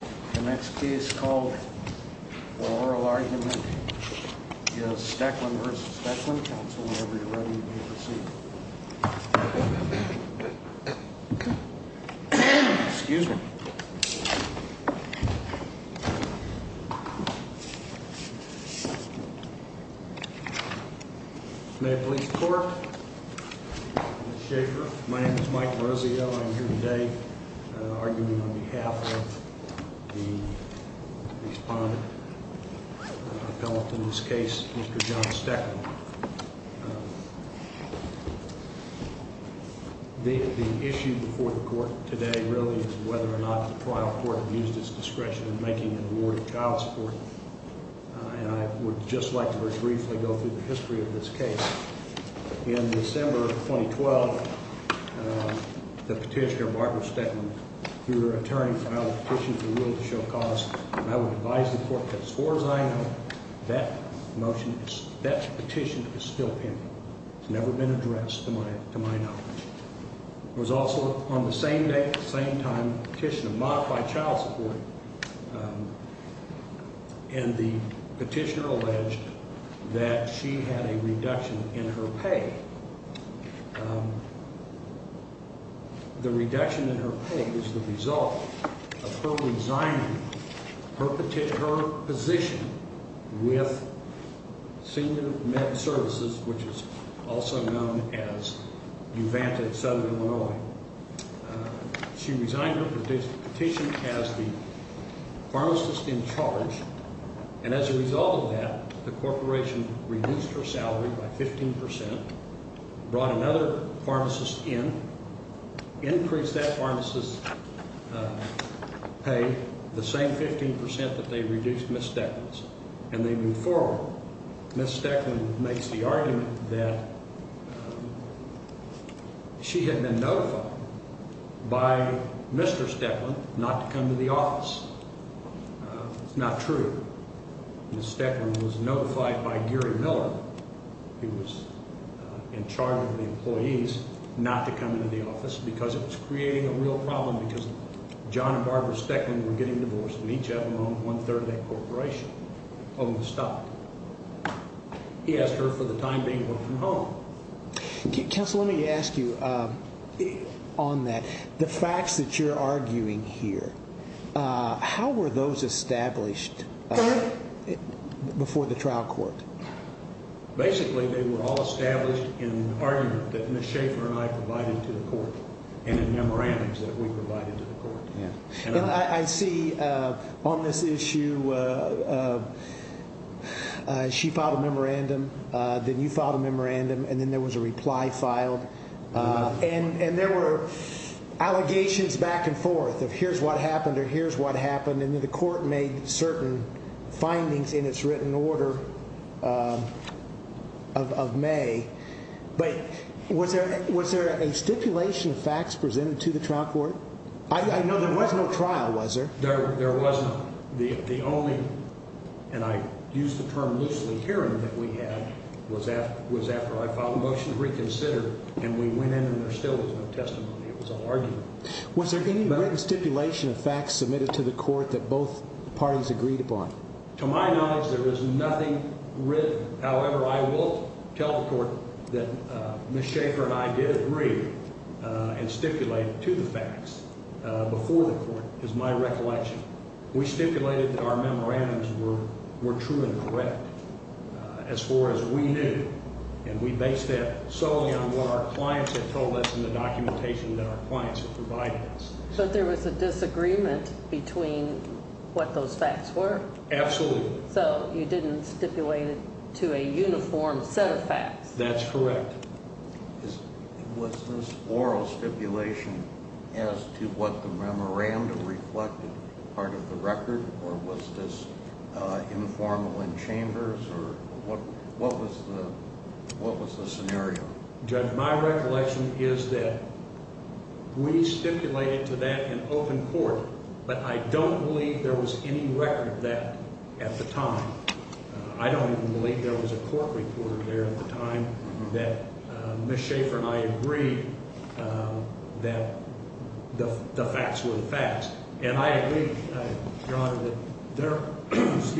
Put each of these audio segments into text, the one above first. The next case called for oral argument is Stoecklin v. Stoecklin, counsel, whenever you're ready, please proceed. Excuse me. May I please report? My name is Mike Rosio. I'm here today arguing on behalf of the respondent appellate in this case, Mr. John Stoecklin. The issue before the court today really is whether or not the trial court used its discretion in making an award of child support. And I would just like to very briefly go through the history of this case. In December of 2012, the petitioner, Barbara Stoecklin, through her attorney, filed a petition for a will to show cause. And I would advise the court that as far as I know, that motion, that petition is still pending. It's never been addressed to my knowledge. It was also on the same day, the same time, a petition to modify child support. And the petitioner alleged that she had a reduction in her pay. The reduction in her pay was the result of her resigning her position with Senior Med Services, which is also known as Uvanta in southern Illinois. She resigned her petition as the pharmacist in charge. And as a result of that, the corporation reduced her salary by 15 percent, brought another pharmacist in, increased that pharmacist's pay the same 15 percent that they reduced Ms. Stoecklin's. And they moved forward. Ms. Stoecklin makes the argument that she had been notified by Mr. Stoecklin not to come to the office. It's not true. Ms. Stoecklin was notified by Gary Miller, who was in charge of the employees, not to come into the office because it was creating a real problem because John and Barbara Stoecklin were getting divorced and each of them owned one third of that corporation, owned the stock. He asked her for the time being to work from home. Counsel, let me ask you on that. The facts that you're arguing here, how were those established before the trial court? Basically, they were all established in the argument that Ms. Schaefer and I provided to the court and in memorandums that we provided to the court. I see on this issue she filed a memorandum, then you filed a memorandum, and then there was a reply filed. And there were allegations back and forth of here's what happened or here's what happened. And then the court made certain findings in its written order of May. But was there a stipulation of facts presented to the trial court? I know there was no trial, was there? There was not. The only, and I use the term loosely, hearing that we had was after I filed a motion to reconsider and we went in and there still was no testimony. It was all argument. Was there any written stipulation of facts submitted to the court that both parties agreed upon? To my knowledge, there is nothing written. However, I will tell the court that Ms. Schaefer and I did agree and stipulate to the facts before the court is my recollection. We stipulated that our memorandums were true and correct as far as we knew. And we based that solely on what our clients had told us in the documentation that our clients had provided us. But there was a disagreement between what those facts were? Absolutely. So you didn't stipulate it to a uniform set of facts? That's correct. Was this oral stipulation as to what the memorandum reflected part of the record or was this informal in chambers or what was the scenario? Judge, my recollection is that we stipulated to that in open court, but I don't believe there was any record of that at the time. I don't even believe there was a court report there at the time that Ms. Schaefer and I agreed that the facts were the facts. And I agree, Your Honor, that there was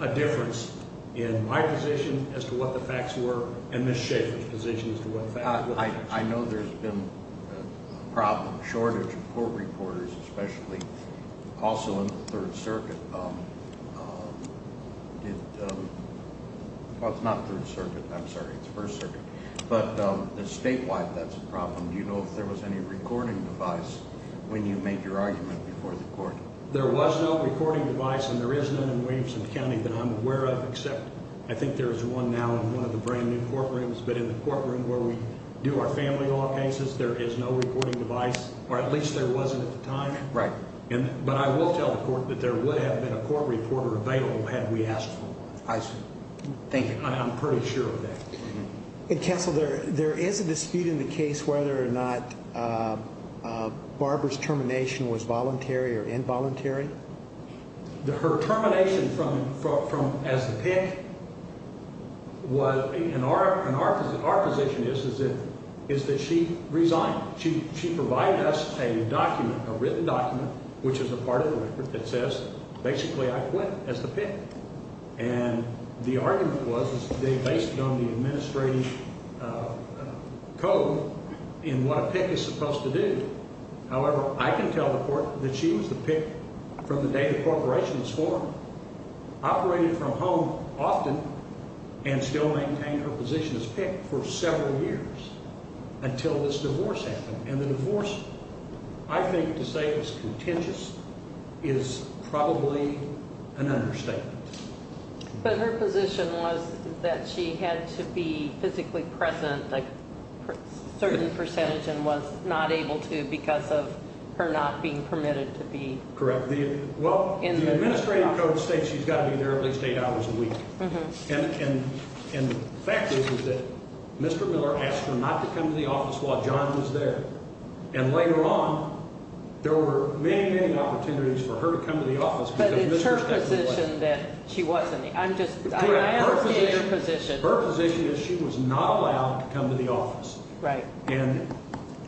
a difference in my position as to what the facts were and Ms. Schaefer's position as to what the facts were. I know there's been a problem, a shortage of court reporters, especially also in the Third Circuit. Well, it's not Third Circuit. I'm sorry. It's First Circuit. But statewide, that's a problem. Do you know if there was any recording device when you made your argument before the court? There was no recording device, and there is none in Williamson County that I'm aware of, except I think there is one now in one of the brand-new courtrooms. But in the courtroom where we do our family law cases, there is no recording device, or at least there wasn't at the time. Right. But I will tell the court that there would have been a court reporter available had we asked for one. I see. Thank you. I'm pretty sure of that. Counsel, there is a dispute in the case whether or not Barbara's termination was voluntary or involuntary. Her termination from as the pick was – and our position is that she resigned. She provided us a document, a written document, which is a part of the record that says basically I quit as the pick. And the argument was they based it on the administrative code in what a pick is supposed to do. However, I can tell the court that she was the pick from the day the corporation was formed, operated from home often, and still maintained her position as pick for several years until this divorce happened. And the divorce, I think, to say is contentious is probably an understatement. But her position was that she had to be physically present a certain percentage and was not able to because of her not being permitted to be. Correct. Well, the administrative code states she's got to be there at least eight hours a week. And the fact is that Mr. Miller asked her not to come to the office while John was there. And later on, there were many, many opportunities for her to come to the office. But it's her position that she wasn't. I'm just asking her position. Her position is she was not allowed to come to the office. Right. And,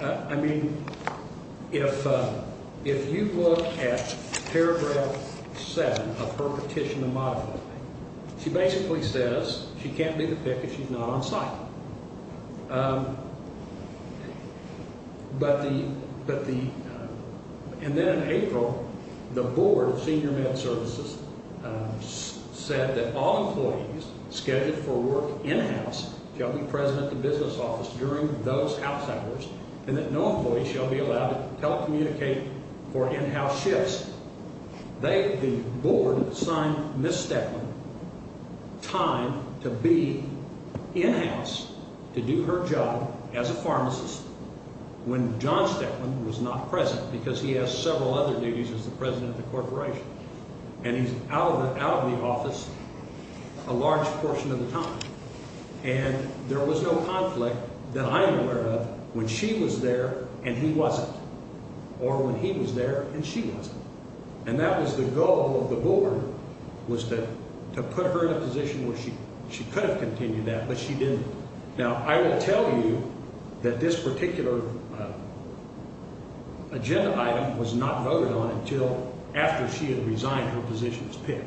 I mean, if you look at Paragraph 7 of her petition to moderate, she basically says she can't be the pick if she's not on site. But the – and then in April, the Board of Senior Med Services said that all employees scheduled for work in-house shall be present at the business office during those house hours and that no employee shall be allowed to telecommunicate for in-house shifts. They – the board assigned Ms. Stettman time to be in-house to do her job as a pharmacist when John Stettman was not present because he has several other duties as the president of the corporation. And he's out of the office a large portion of the time. And there was no conflict that I'm aware of when she was there and he wasn't or when he was there and she wasn't. And that was the goal of the board was to put her in a position where she could have continued that, but she didn't. Now, I will tell you that this particular agenda item was not voted on until after she had resigned her position as pick.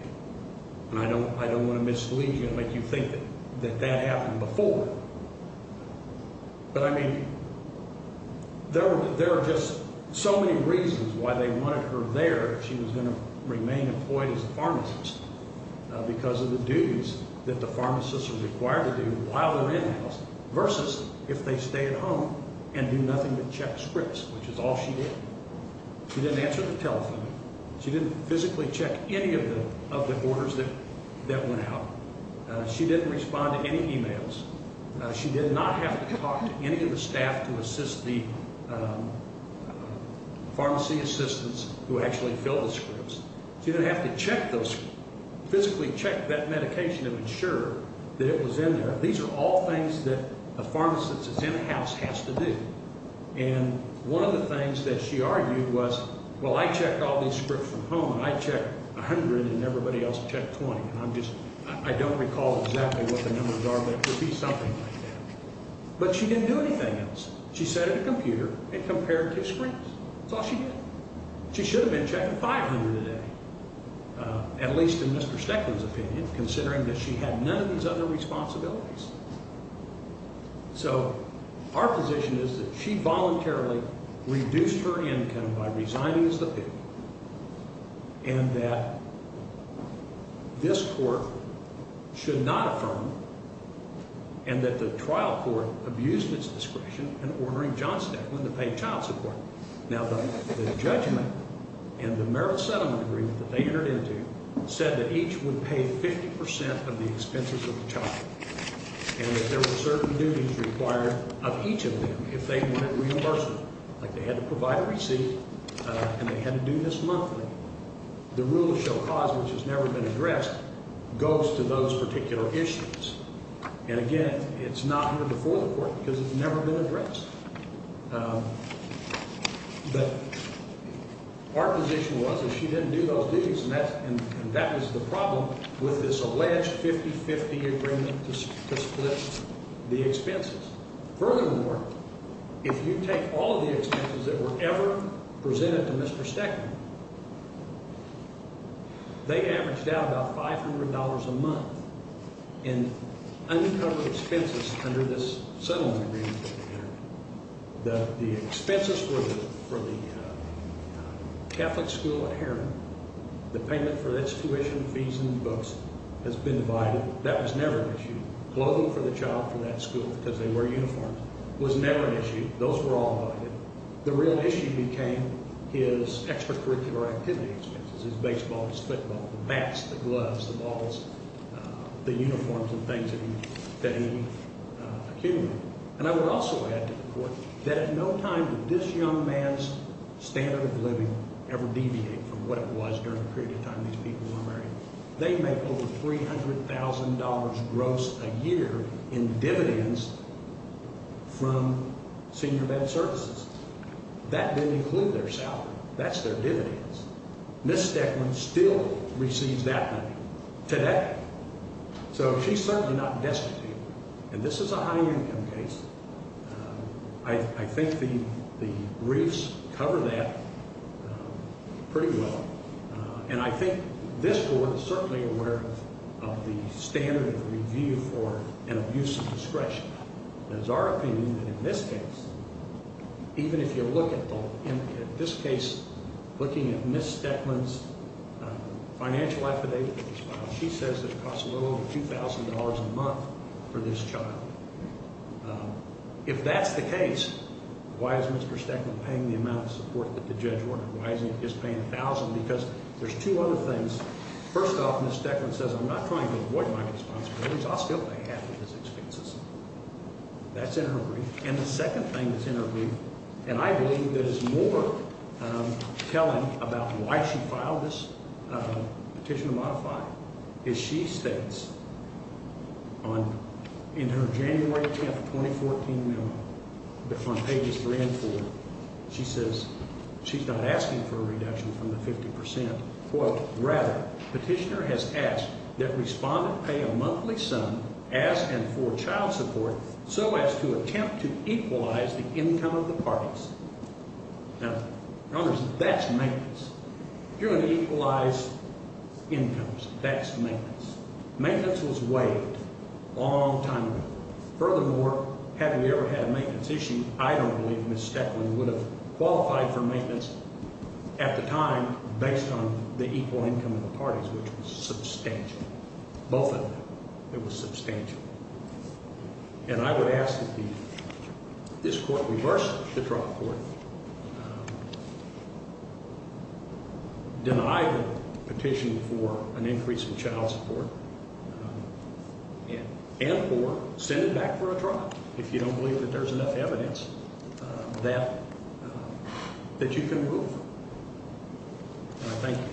And I don't want to mislead you and make you think that that happened before. But, I mean, there are just so many reasons why they wanted her there if she was going to remain employed as a pharmacist because of the duties that the pharmacists are required to do while they're in-house versus if they stay at home and do nothing but check scripts, which is all she did. She didn't answer the telephone. She didn't physically check any of the orders that went out. She didn't respond to any e-mails. She did not have to talk to any of the staff to assist the pharmacy assistants who actually filled the scripts. She didn't have to check those, physically check that medication to ensure that it was in there. These are all things that a pharmacist that's in-house has to do. And one of the things that she argued was, well, I checked all these scripts from home, and I checked 100, and everybody else checked 20. And I'm just – I don't recall exactly what the numbers are, but it could be something like that. But she didn't do anything else. She sat at a computer and compared two screens. That's all she did. She should have been checking 500 a day, at least in Mr. Steckland's opinion, considering that she had none of his other responsibilities. So our position is that she voluntarily reduced her income by resigning as the pig and that this court should not affirm and that the trial court abused its discretion in ordering John Steckland to pay child support. Now, the judgment and the merit settlement agreement that they entered into said that each would pay 50 percent of the expenses of the child and that there were certain duties required of each of them if they wanted reimbursement. Like they had to provide a receipt, and they had to do this monthly. The rule of show cause, which has never been addressed, goes to those particular issues. And again, it's not here before the court because it's never been addressed. But our position was that she didn't do those duties, and that was the problem with this alleged 50-50 agreement to split the expenses. Furthermore, if you take all of the expenses that were ever presented to Mr. Steckland, they averaged out about $500 a month in uncovered expenses under this settlement agreement that they entered. The expenses were for the Catholic school at Heron. The payment for its tuition, fees, and books has been divided. That was never an issue. Clothing for the child from that school, because they wear uniforms, was never an issue. Those were all divided. The real issue became his extracurricular activity expenses, his baseball, his football, the bats, the gloves, the balls, the uniforms and things that he accumulated. And I would also add to the court that at no time did this young man's standard of living ever deviate from what it was during the period of time these people were married. They make over $300,000 gross a year in dividends from senior bed services. That didn't include their salary. That's their dividends. Ms. Steckland still receives that money today. So she's certainly not destitute. And this is a high-income case. I think the briefs cover that pretty well. And I think this court is certainly aware of the standard of review for an abuse of discretion. And it's our opinion that in this case, even if you look at this case, looking at Ms. Steckland's financial affidavit, she says it costs a little over $2,000 a month for this child. If that's the case, why is Mr. Steckland paying the amount of support that the judge ordered? Why isn't he just paying $1,000? Because there's two other things. First off, Ms. Steckland says, I'm not trying to avoid my responsibilities. I'll still pay half of his expenses. That's in her brief. And the second thing that's in her brief, and I believe that is more telling about why she filed this petition to modify it, is she states in her January 10, 2014 memo, that's on pages 3 and 4, she says she's not asking for a reduction from the 50 percent. Quote, rather, petitioner has asked that respondent pay a monthly sum as and for child support so as to attempt to equalize the income of the parties. Now, that's maintenance. If you're going to equalize incomes, that's maintenance. Maintenance was waived a long time ago. Furthermore, had we ever had a maintenance issue, I don't believe Ms. Steckland would have qualified for maintenance at the time based on the equal income of the parties, which was substantial. Both of them. It was substantial. And I would ask that this court reverse the trial court, deny the petition for an increase in child support, and or send it back for a trial if you don't believe that there's enough evidence that you can move. And I thank you.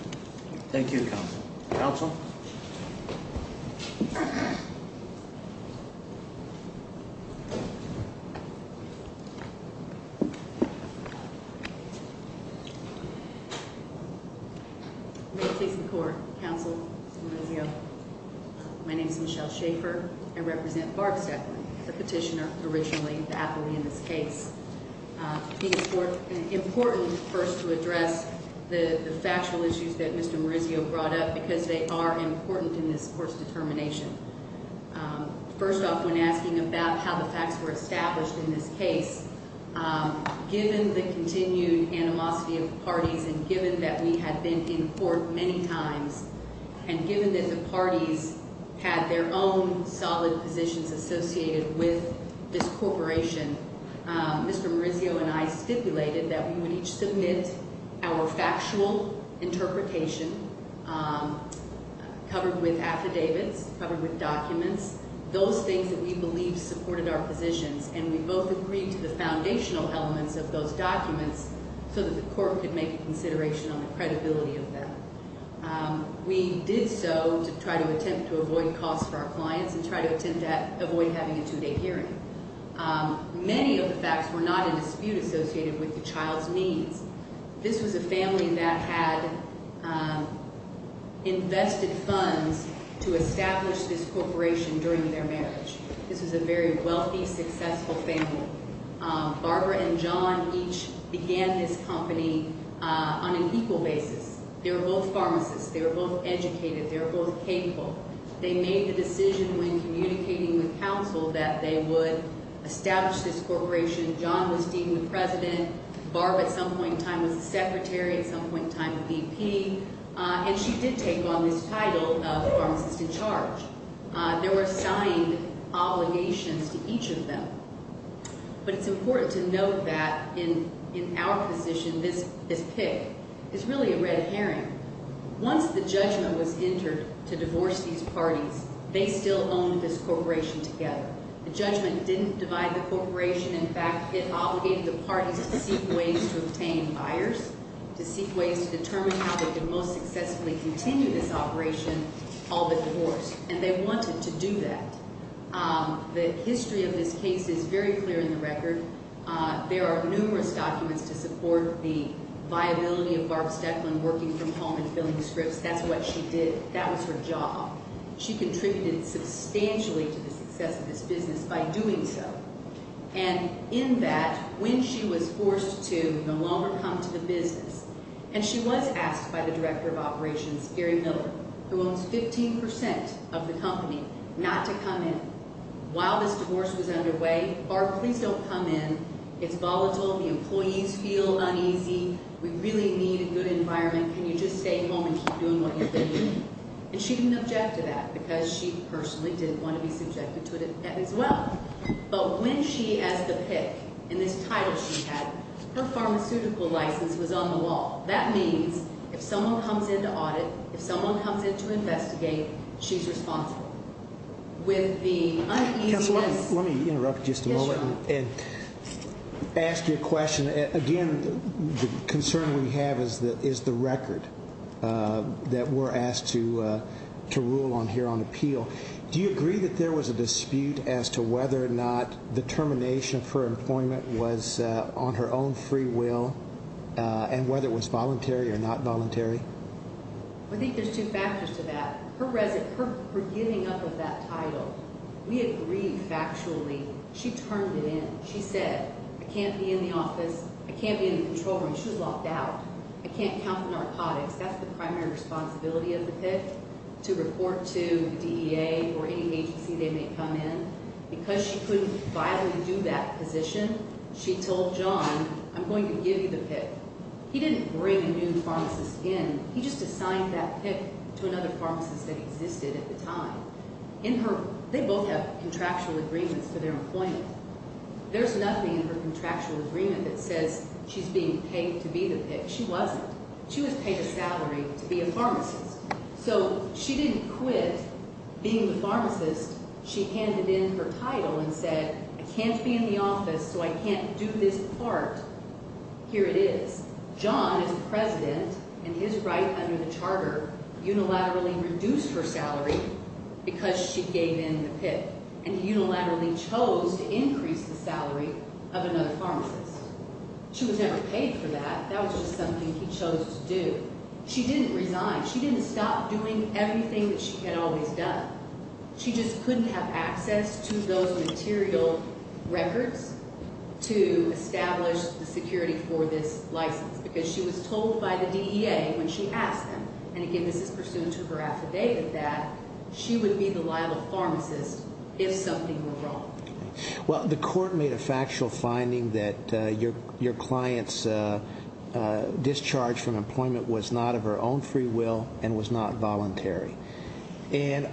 Thank you, Counsel. Counsel? Thank you. Please record, Counsel Morizio. My name is Michelle Shaffer. I represent Barb Steckland, the petitioner originally, the athlete in this case. It's important, first, to address the factual issues that Mr. Morizio brought up because they are important in this court's determination. First off, when asking about how the facts were established in this case, given the continued animosity of the parties and given that we had been in court many times, and given that the parties had their own solid positions associated with this corporation, Mr. Morizio and I stipulated that we would each submit our factual interpretation covered with affidavits, covered with documents. Those things that we believed supported our positions, and we both agreed to the foundational elements of those documents so that the court could make a consideration on the credibility of them. We did so to try to attempt to avoid costs for our clients and try to attempt to avoid having a two-day hearing. Many of the facts were not in dispute associated with the child's needs. This was a family that had invested funds to establish this corporation during their marriage. This was a very wealthy, successful family. Barbara and John each began this company on an equal basis. They were both pharmacists. They were both educated. They were both capable. They made the decision when communicating with counsel that they would establish this corporation. John was deemed the president. Barbara at some point in time was the secretary, at some point in time the VP, and she did take on this title of pharmacist in charge. There were signed obligations to each of them. But it's important to note that in our position, this pick is really a red herring. Once the judgment was entered to divorce these parties, they still owned this corporation together. The judgment didn't divide the corporation. In fact, it obligated the parties to seek ways to obtain buyers, to seek ways to determine how they could most successfully continue this operation, all but divorce. And they wanted to do that. The history of this case is very clear in the record. There are numerous documents to support the viability of Barb Stecklin working from home and filling scripts. That's what she did. That was her job. She contributed substantially to the success of this business by doing so. And in that, when she was forced to no longer come to the business, and she was asked by the director of operations, Gary Miller, who owns 15 percent of the company, not to come in. While this divorce was underway, Barb, please don't come in. It's volatile. The employees feel uneasy. We really need a good environment. Can you just stay home and keep doing what you've been doing? And she didn't object to that because she personally didn't want to be subjected to it as well. But when she asked to pick, in this title she had, her pharmaceutical license was on the wall. That means if someone comes in to audit, if someone comes in to investigate, she's responsible. With the uneasiness. Counsel, let me interrupt just a moment and ask you a question. Again, the concern we have is the record that we're asked to rule on here on appeal. Do you agree that there was a dispute as to whether or not the termination of her employment was on her own free will and whether it was voluntary or not voluntary? I think there's two factors to that. Her giving up of that title, we agreed factually. She turned it in. She said, I can't be in the office. I can't be in the control room. She was locked out. I can't count the narcotics. That's the primary responsibility of the pick, to report to the DEA or any agency they may come in. Because she couldn't viably do that position, she told John, I'm going to give you the pick. He didn't bring a new pharmacist in. He just assigned that pick to another pharmacist that existed at the time. In her, they both have contractual agreements for their employment. There's nothing in her contractual agreement that says she's being paid to be the pick. She wasn't. She was paid a salary to be a pharmacist. So she didn't quit being the pharmacist. She handed in her title and said, I can't be in the office, so I can't do this part. Here it is. John, as president, and his right under the charter, unilaterally reduced her salary because she gave in the pick. And he unilaterally chose to increase the salary of another pharmacist. She was never paid for that. That was just something he chose to do. She didn't resign. She didn't stop doing everything that she had always done. She just couldn't have access to those material records to establish the security for this license. Because she was told by the DEA when she asked them, and, again, this is pursuant to her affidavit, that she would be the liable pharmacist if something were wrong. Well, the court made a factual finding that your client's discharge from employment was not of her own free will and was not voluntary. And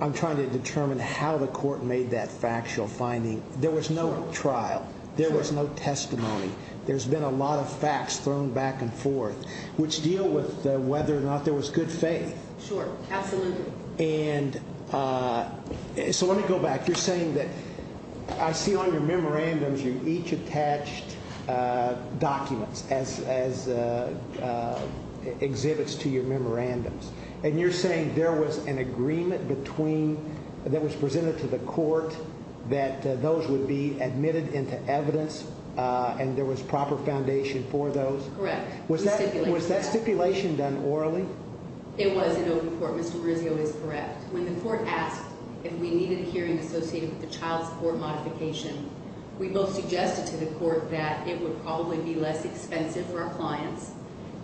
I'm trying to determine how the court made that factual finding. There was no trial. There was no testimony. There's been a lot of facts thrown back and forth, which deal with whether or not there was good faith. Sure. Absolutely. And so let me go back. You're saying that I see on your memorandums you each attached documents as exhibits to your memorandums. And you're saying there was an agreement between that was presented to the court that those would be admitted into evidence and there was proper foundation for those? Correct. Was that stipulation done orally? It was in open court. Mr. Marizio is correct. When the court asked if we needed a hearing associated with the child support modification, we both suggested to the court that it would probably be less expensive for our clients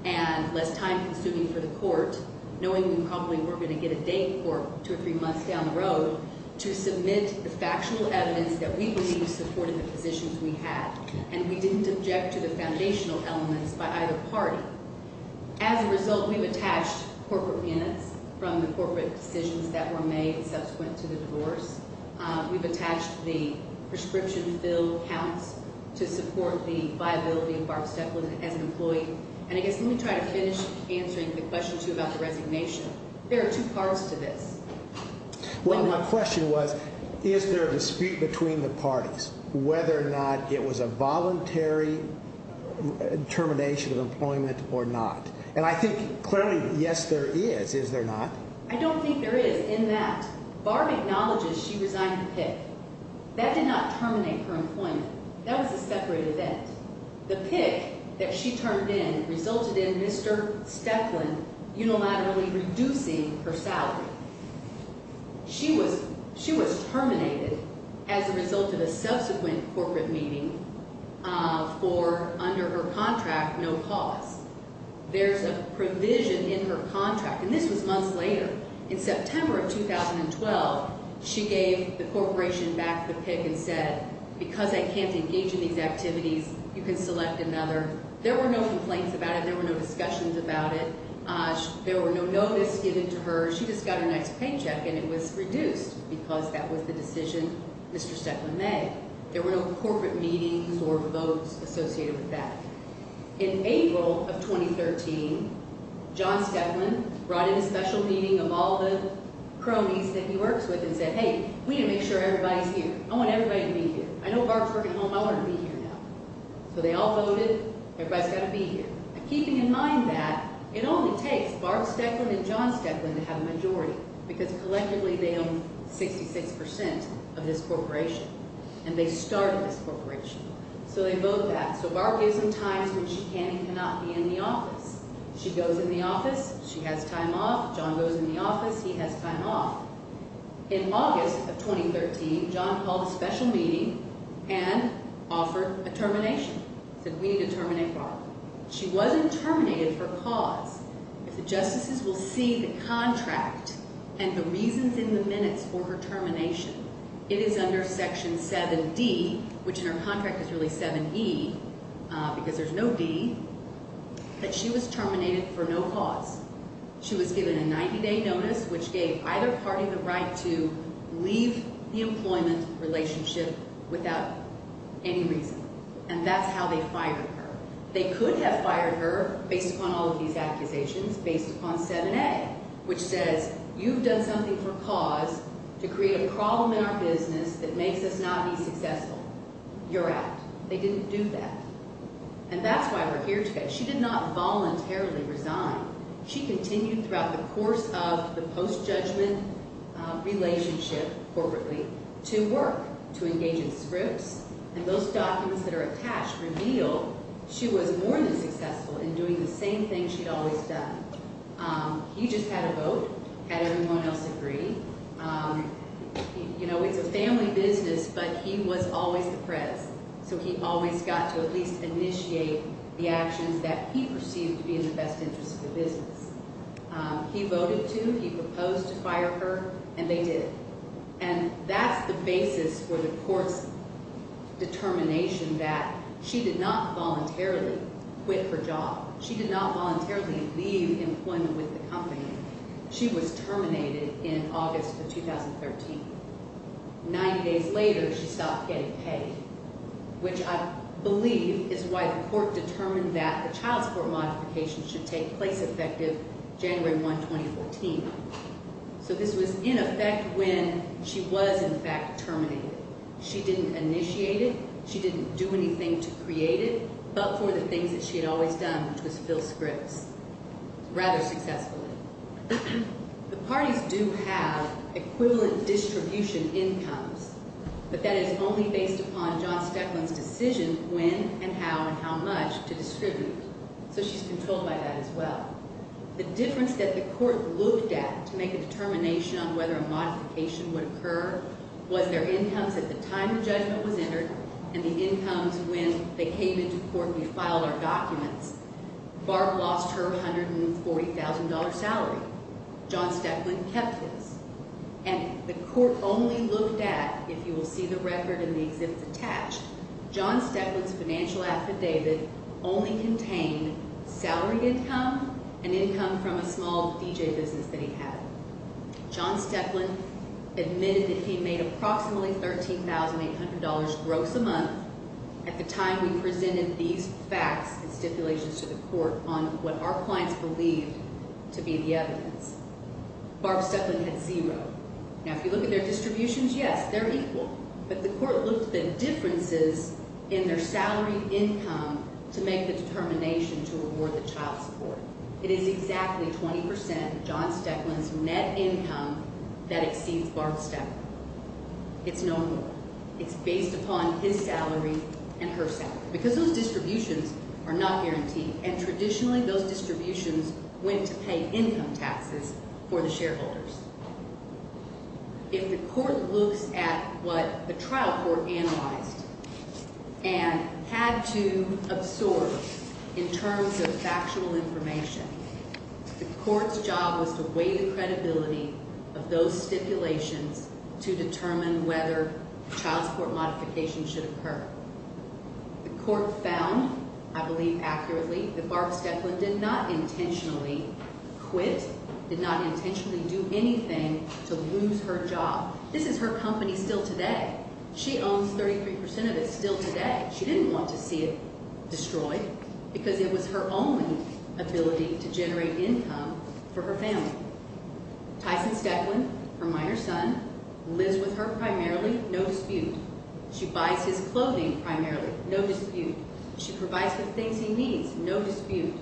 and less time consuming for the court, knowing we probably weren't going to get a date for two or three months down the road, to submit the factual evidence that we believed supported the positions we had. And we didn't object to the foundational elements by either party. As a result, we've attached corporate minutes from the corporate decisions that were made subsequent to the divorce. We've attached the prescription-filled counts to support the viability of Barb Stepland as an employee. And I guess let me try to finish answering the question, too, about the resignation. There are two parts to this. Well, my question was, is there a dispute between the parties whether or not it was a voluntary termination of employment or not? And I think clearly, yes, there is. Is there not? I don't think there is in that. Barb acknowledges she resigned to PICC. That did not terminate her employment. That was a separate event. The PICC that she turned in resulted in Mr. Stepland unilaterally reducing her salary. She was terminated as a result of a subsequent corporate meeting for, under her contract, no cause. There's a provision in her contract, and this was months later. In September of 2012, she gave the corporation back the PICC and said, because I can't engage in these activities, you can select another. There were no complaints about it. There were no discussions about it. There were no notice given to her. She just got a nice paycheck, and it was reduced because that was the decision Mr. Stepland made. There were no corporate meetings or votes associated with that. In April of 2013, John Stepland brought in a special meeting of all the cronies that he works with and said, hey, we need to make sure everybody's here. I want everybody to be here. I know Barb's working home. I want her to be here now. So they all voted. Everybody's got to be here. Keeping in mind that, it only takes Barb Stepland and John Stepland to have a majority because collectively they own 66% of this corporation, and they started this corporation. So they vote that. So Barb gives them times when she can and cannot be in the office. She goes in the office. She has time off. John goes in the office. He has time off. In August of 2013, John called a special meeting and offered a termination, said we need to terminate Barb. She wasn't terminated for cause. If the justices will see the contract and the reasons in the minutes for her termination, it is under Section 7D, which in her contract is really 7E because there's no D, that she was terminated for no cause. She was given a 90-day notice, which gave either party the right to leave the employment relationship without any reason. And that's how they fired her. They could have fired her based upon all of these accusations based upon 7A, which says you've done something for cause to create a problem in our business that makes us not be successful. You're out. They didn't do that. And that's why we're here today. She did not voluntarily resign. She continued throughout the course of the post-judgment relationship, corporately, to work, to engage in scripts. And those documents that are attached reveal she was more than successful in doing the same thing she'd always done. He just had a vote, had everyone else agree. You know, it's a family business, but he was always the prez. So he always got to at least initiate the actions that he perceived to be in the best interest of the business. He voted to, he proposed to fire her, and they did. And that's the basis for the court's determination that she did not voluntarily quit her job. She did not voluntarily leave employment with the company. She was terminated in August of 2013. Ninety days later, she stopped getting paid, which I believe is why the court determined that the child support modification should take place effective January 1, 2014. So this was in effect when she was, in fact, terminated. She didn't initiate it. She didn't do anything to create it but for the things that she had always done, which was fill scripts rather successfully. The parties do have equivalent distribution incomes, but that is only based upon John Steadman's decision when and how and how much to distribute. So she's controlled by that as well. The difference that the court looked at to make a determination on whether a modification would occur was their incomes at the time the judgment was entered and the incomes when they came into court and we filed our documents. Barb lost her $140,000 salary. John Steadman kept his. And the court only looked at, if you will see the record and the exhibits attached, John Steadman's financial affidavit only contained salary income and income from a small DJ business that he had. John Steadman admitted that he made approximately $13,800 gross a month at the time we presented these facts and stipulations to the court on what our clients believed to be the evidence. Barb Steadman had zero. Now, if you look at their distributions, yes, they're equal. But the court looked at differences in their salary income to make the determination to award the child support. It is exactly 20% of John Steadman's net income that exceeds Barb Steadman. It's no more. It's based upon his salary and her salary. Because those distributions are not guaranteed, and traditionally those distributions went to pay income taxes for the shareholders. If the court looks at what the trial court analyzed and had to absorb in terms of factual information, the court's job was to weigh the credibility of those stipulations to determine whether child support modification should occur. The court found, I believe accurately, that Barb Steadman did not intentionally quit, did not intentionally do anything to lose her job. This is her company still today. She owns 33% of it still today. She didn't want to see it destroyed because it was her only ability to generate income for her family. Tyson Steadman, her minor son, lives with her primarily, no dispute. She buys his clothing primarily, no dispute. She provides the things he needs, no dispute.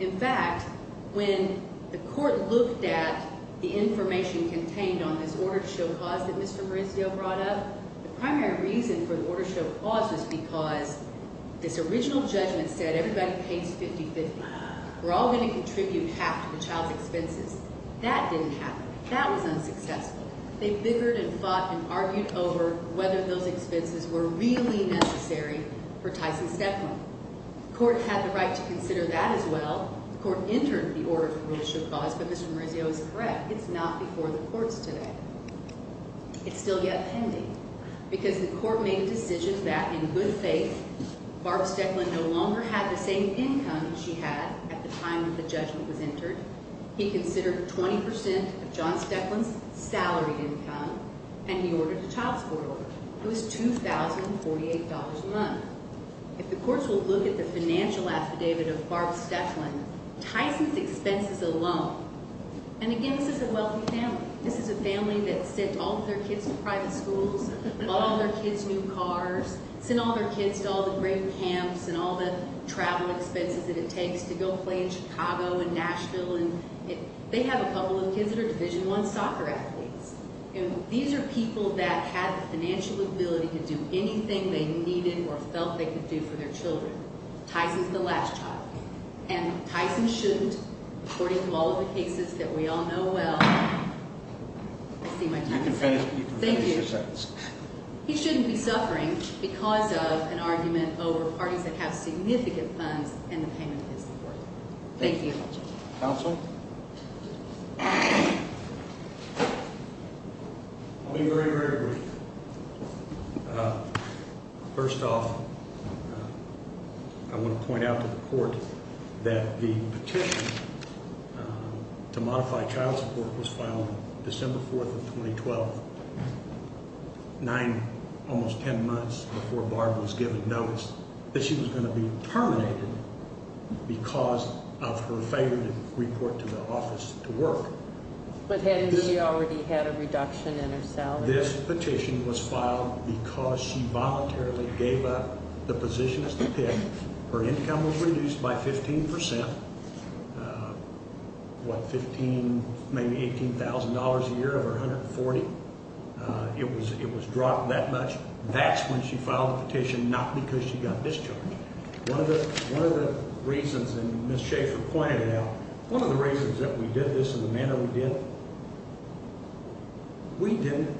In fact, when the court looked at the information contained on this order to show cause that Mr. Marizio brought up, the primary reason for the order to show cause was because this original judgment said everybody pays 50-50. We're all going to contribute half to the child's expenses. That didn't happen. That was unsuccessful. They bickered and fought and argued over whether those expenses were really necessary for Tyson Steadman. The court had the right to consider that as well. The court entered the order to show cause, but Mr. Marizio is correct. It's not before the courts today. It's still yet pending because the court made a decision that, in good faith, Barb Steadman no longer had the same income she had at the time the judgment was entered. He considered 20% of John Steadman's salary income, and he ordered a child support order. It was $2,048 a month. If the courts will look at the financial affidavit of Barb Steadman, Tyson's expenses alone, and again, this is a wealthy family. This is a family that sent all of their kids to private schools, bought all their kids new cars, sent all their kids to all the great camps and all the travel expenses that it takes to go play in Chicago and Nashville. They have a couple of kids that are Division I soccer athletes, and these are people that had the financial ability to do anything they needed or felt they could do for their children. Tyson's the last child. And Tyson shouldn't, according to all of the cases that we all know well. I see my time is up. Thank you. He shouldn't be suffering because of an argument over parties that have significant funds and the payment of his support. Thank you. Counsel? I'll be very, very brief. First off, I want to point out to the court that the petition to modify child support was filed December 4th of 2012, nine, almost ten months before Barb was given notice that she was going to be terminated because of her failure to report to the office to work. But hadn't she already had a reduction in her salary? This petition was filed because she voluntarily gave up the positions to pick. Her income was reduced by 15 percent, what, 15, maybe $18,000 a year over 140. It was dropped that much. That's when she filed the petition, not because she got discharged. One of the reasons, and Ms. Schaefer pointed it out, one of the reasons that we did this and the manner we did it, we didn't,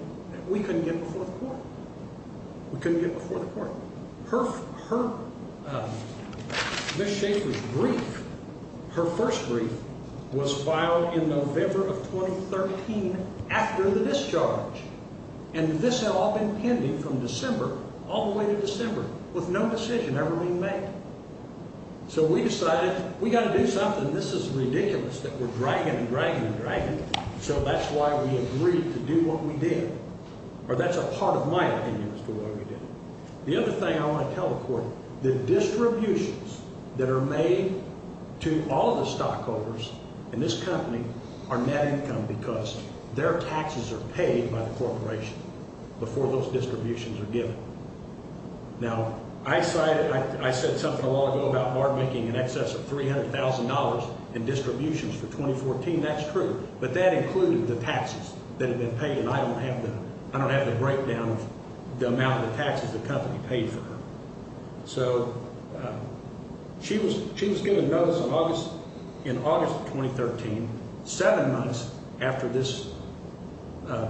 we couldn't get before the court. We couldn't get before the court. Ms. Schaefer's brief, her first brief, was filed in November of 2013 after the discharge. And this had all been pending from December, all the way to December, with no decision ever being made. So we decided we've got to do something. This is ridiculous that we're dragging and dragging and dragging. So that's why we agreed to do what we did. Or that's a part of my opinion as to why we did it. The other thing I want to tell the court, the distributions that are made to all the stockholders in this company are net income because their taxes are paid by the corporation before those distributions are given. Now, I cited, I said something a while ago about bar making in excess of $300,000 in distributions for 2014. That's true. But that included the taxes that had been paid. I don't have the breakdown of the amount of taxes the company paid for her. So she was given notice in August of 2013, seven months after this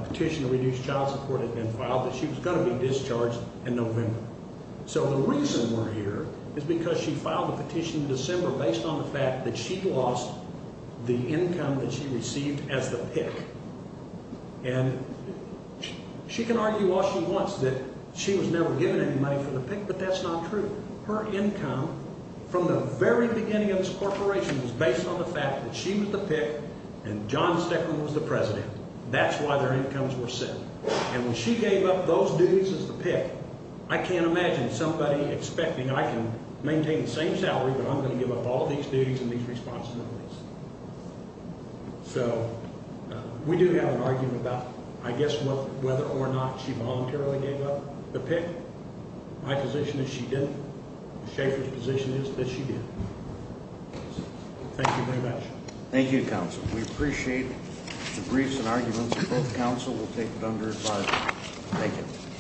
petition to reduce child support had been filed, that she was going to be discharged in November. So the reason we're here is because she filed a petition in December based on the fact that she lost the income that she received as the PIC. And she can argue all she wants that she was never given any money for the PIC, but that's not true. Her income from the very beginning of this corporation was based on the fact that she was the PIC and John Steckman was the president. That's why their incomes were set. And when she gave up those duties as the PIC, I can't imagine somebody expecting I can maintain the same salary, but I'm going to give up all these duties and these responsibilities. So we do have an argument about, I guess, whether or not she voluntarily gave up the PIC. My position is she didn't. Schaefer's position is that she did. Thank you very much. Thank you, Counsel. We appreciate the briefs and arguments, and both counsel will take them under advisement. Thank you.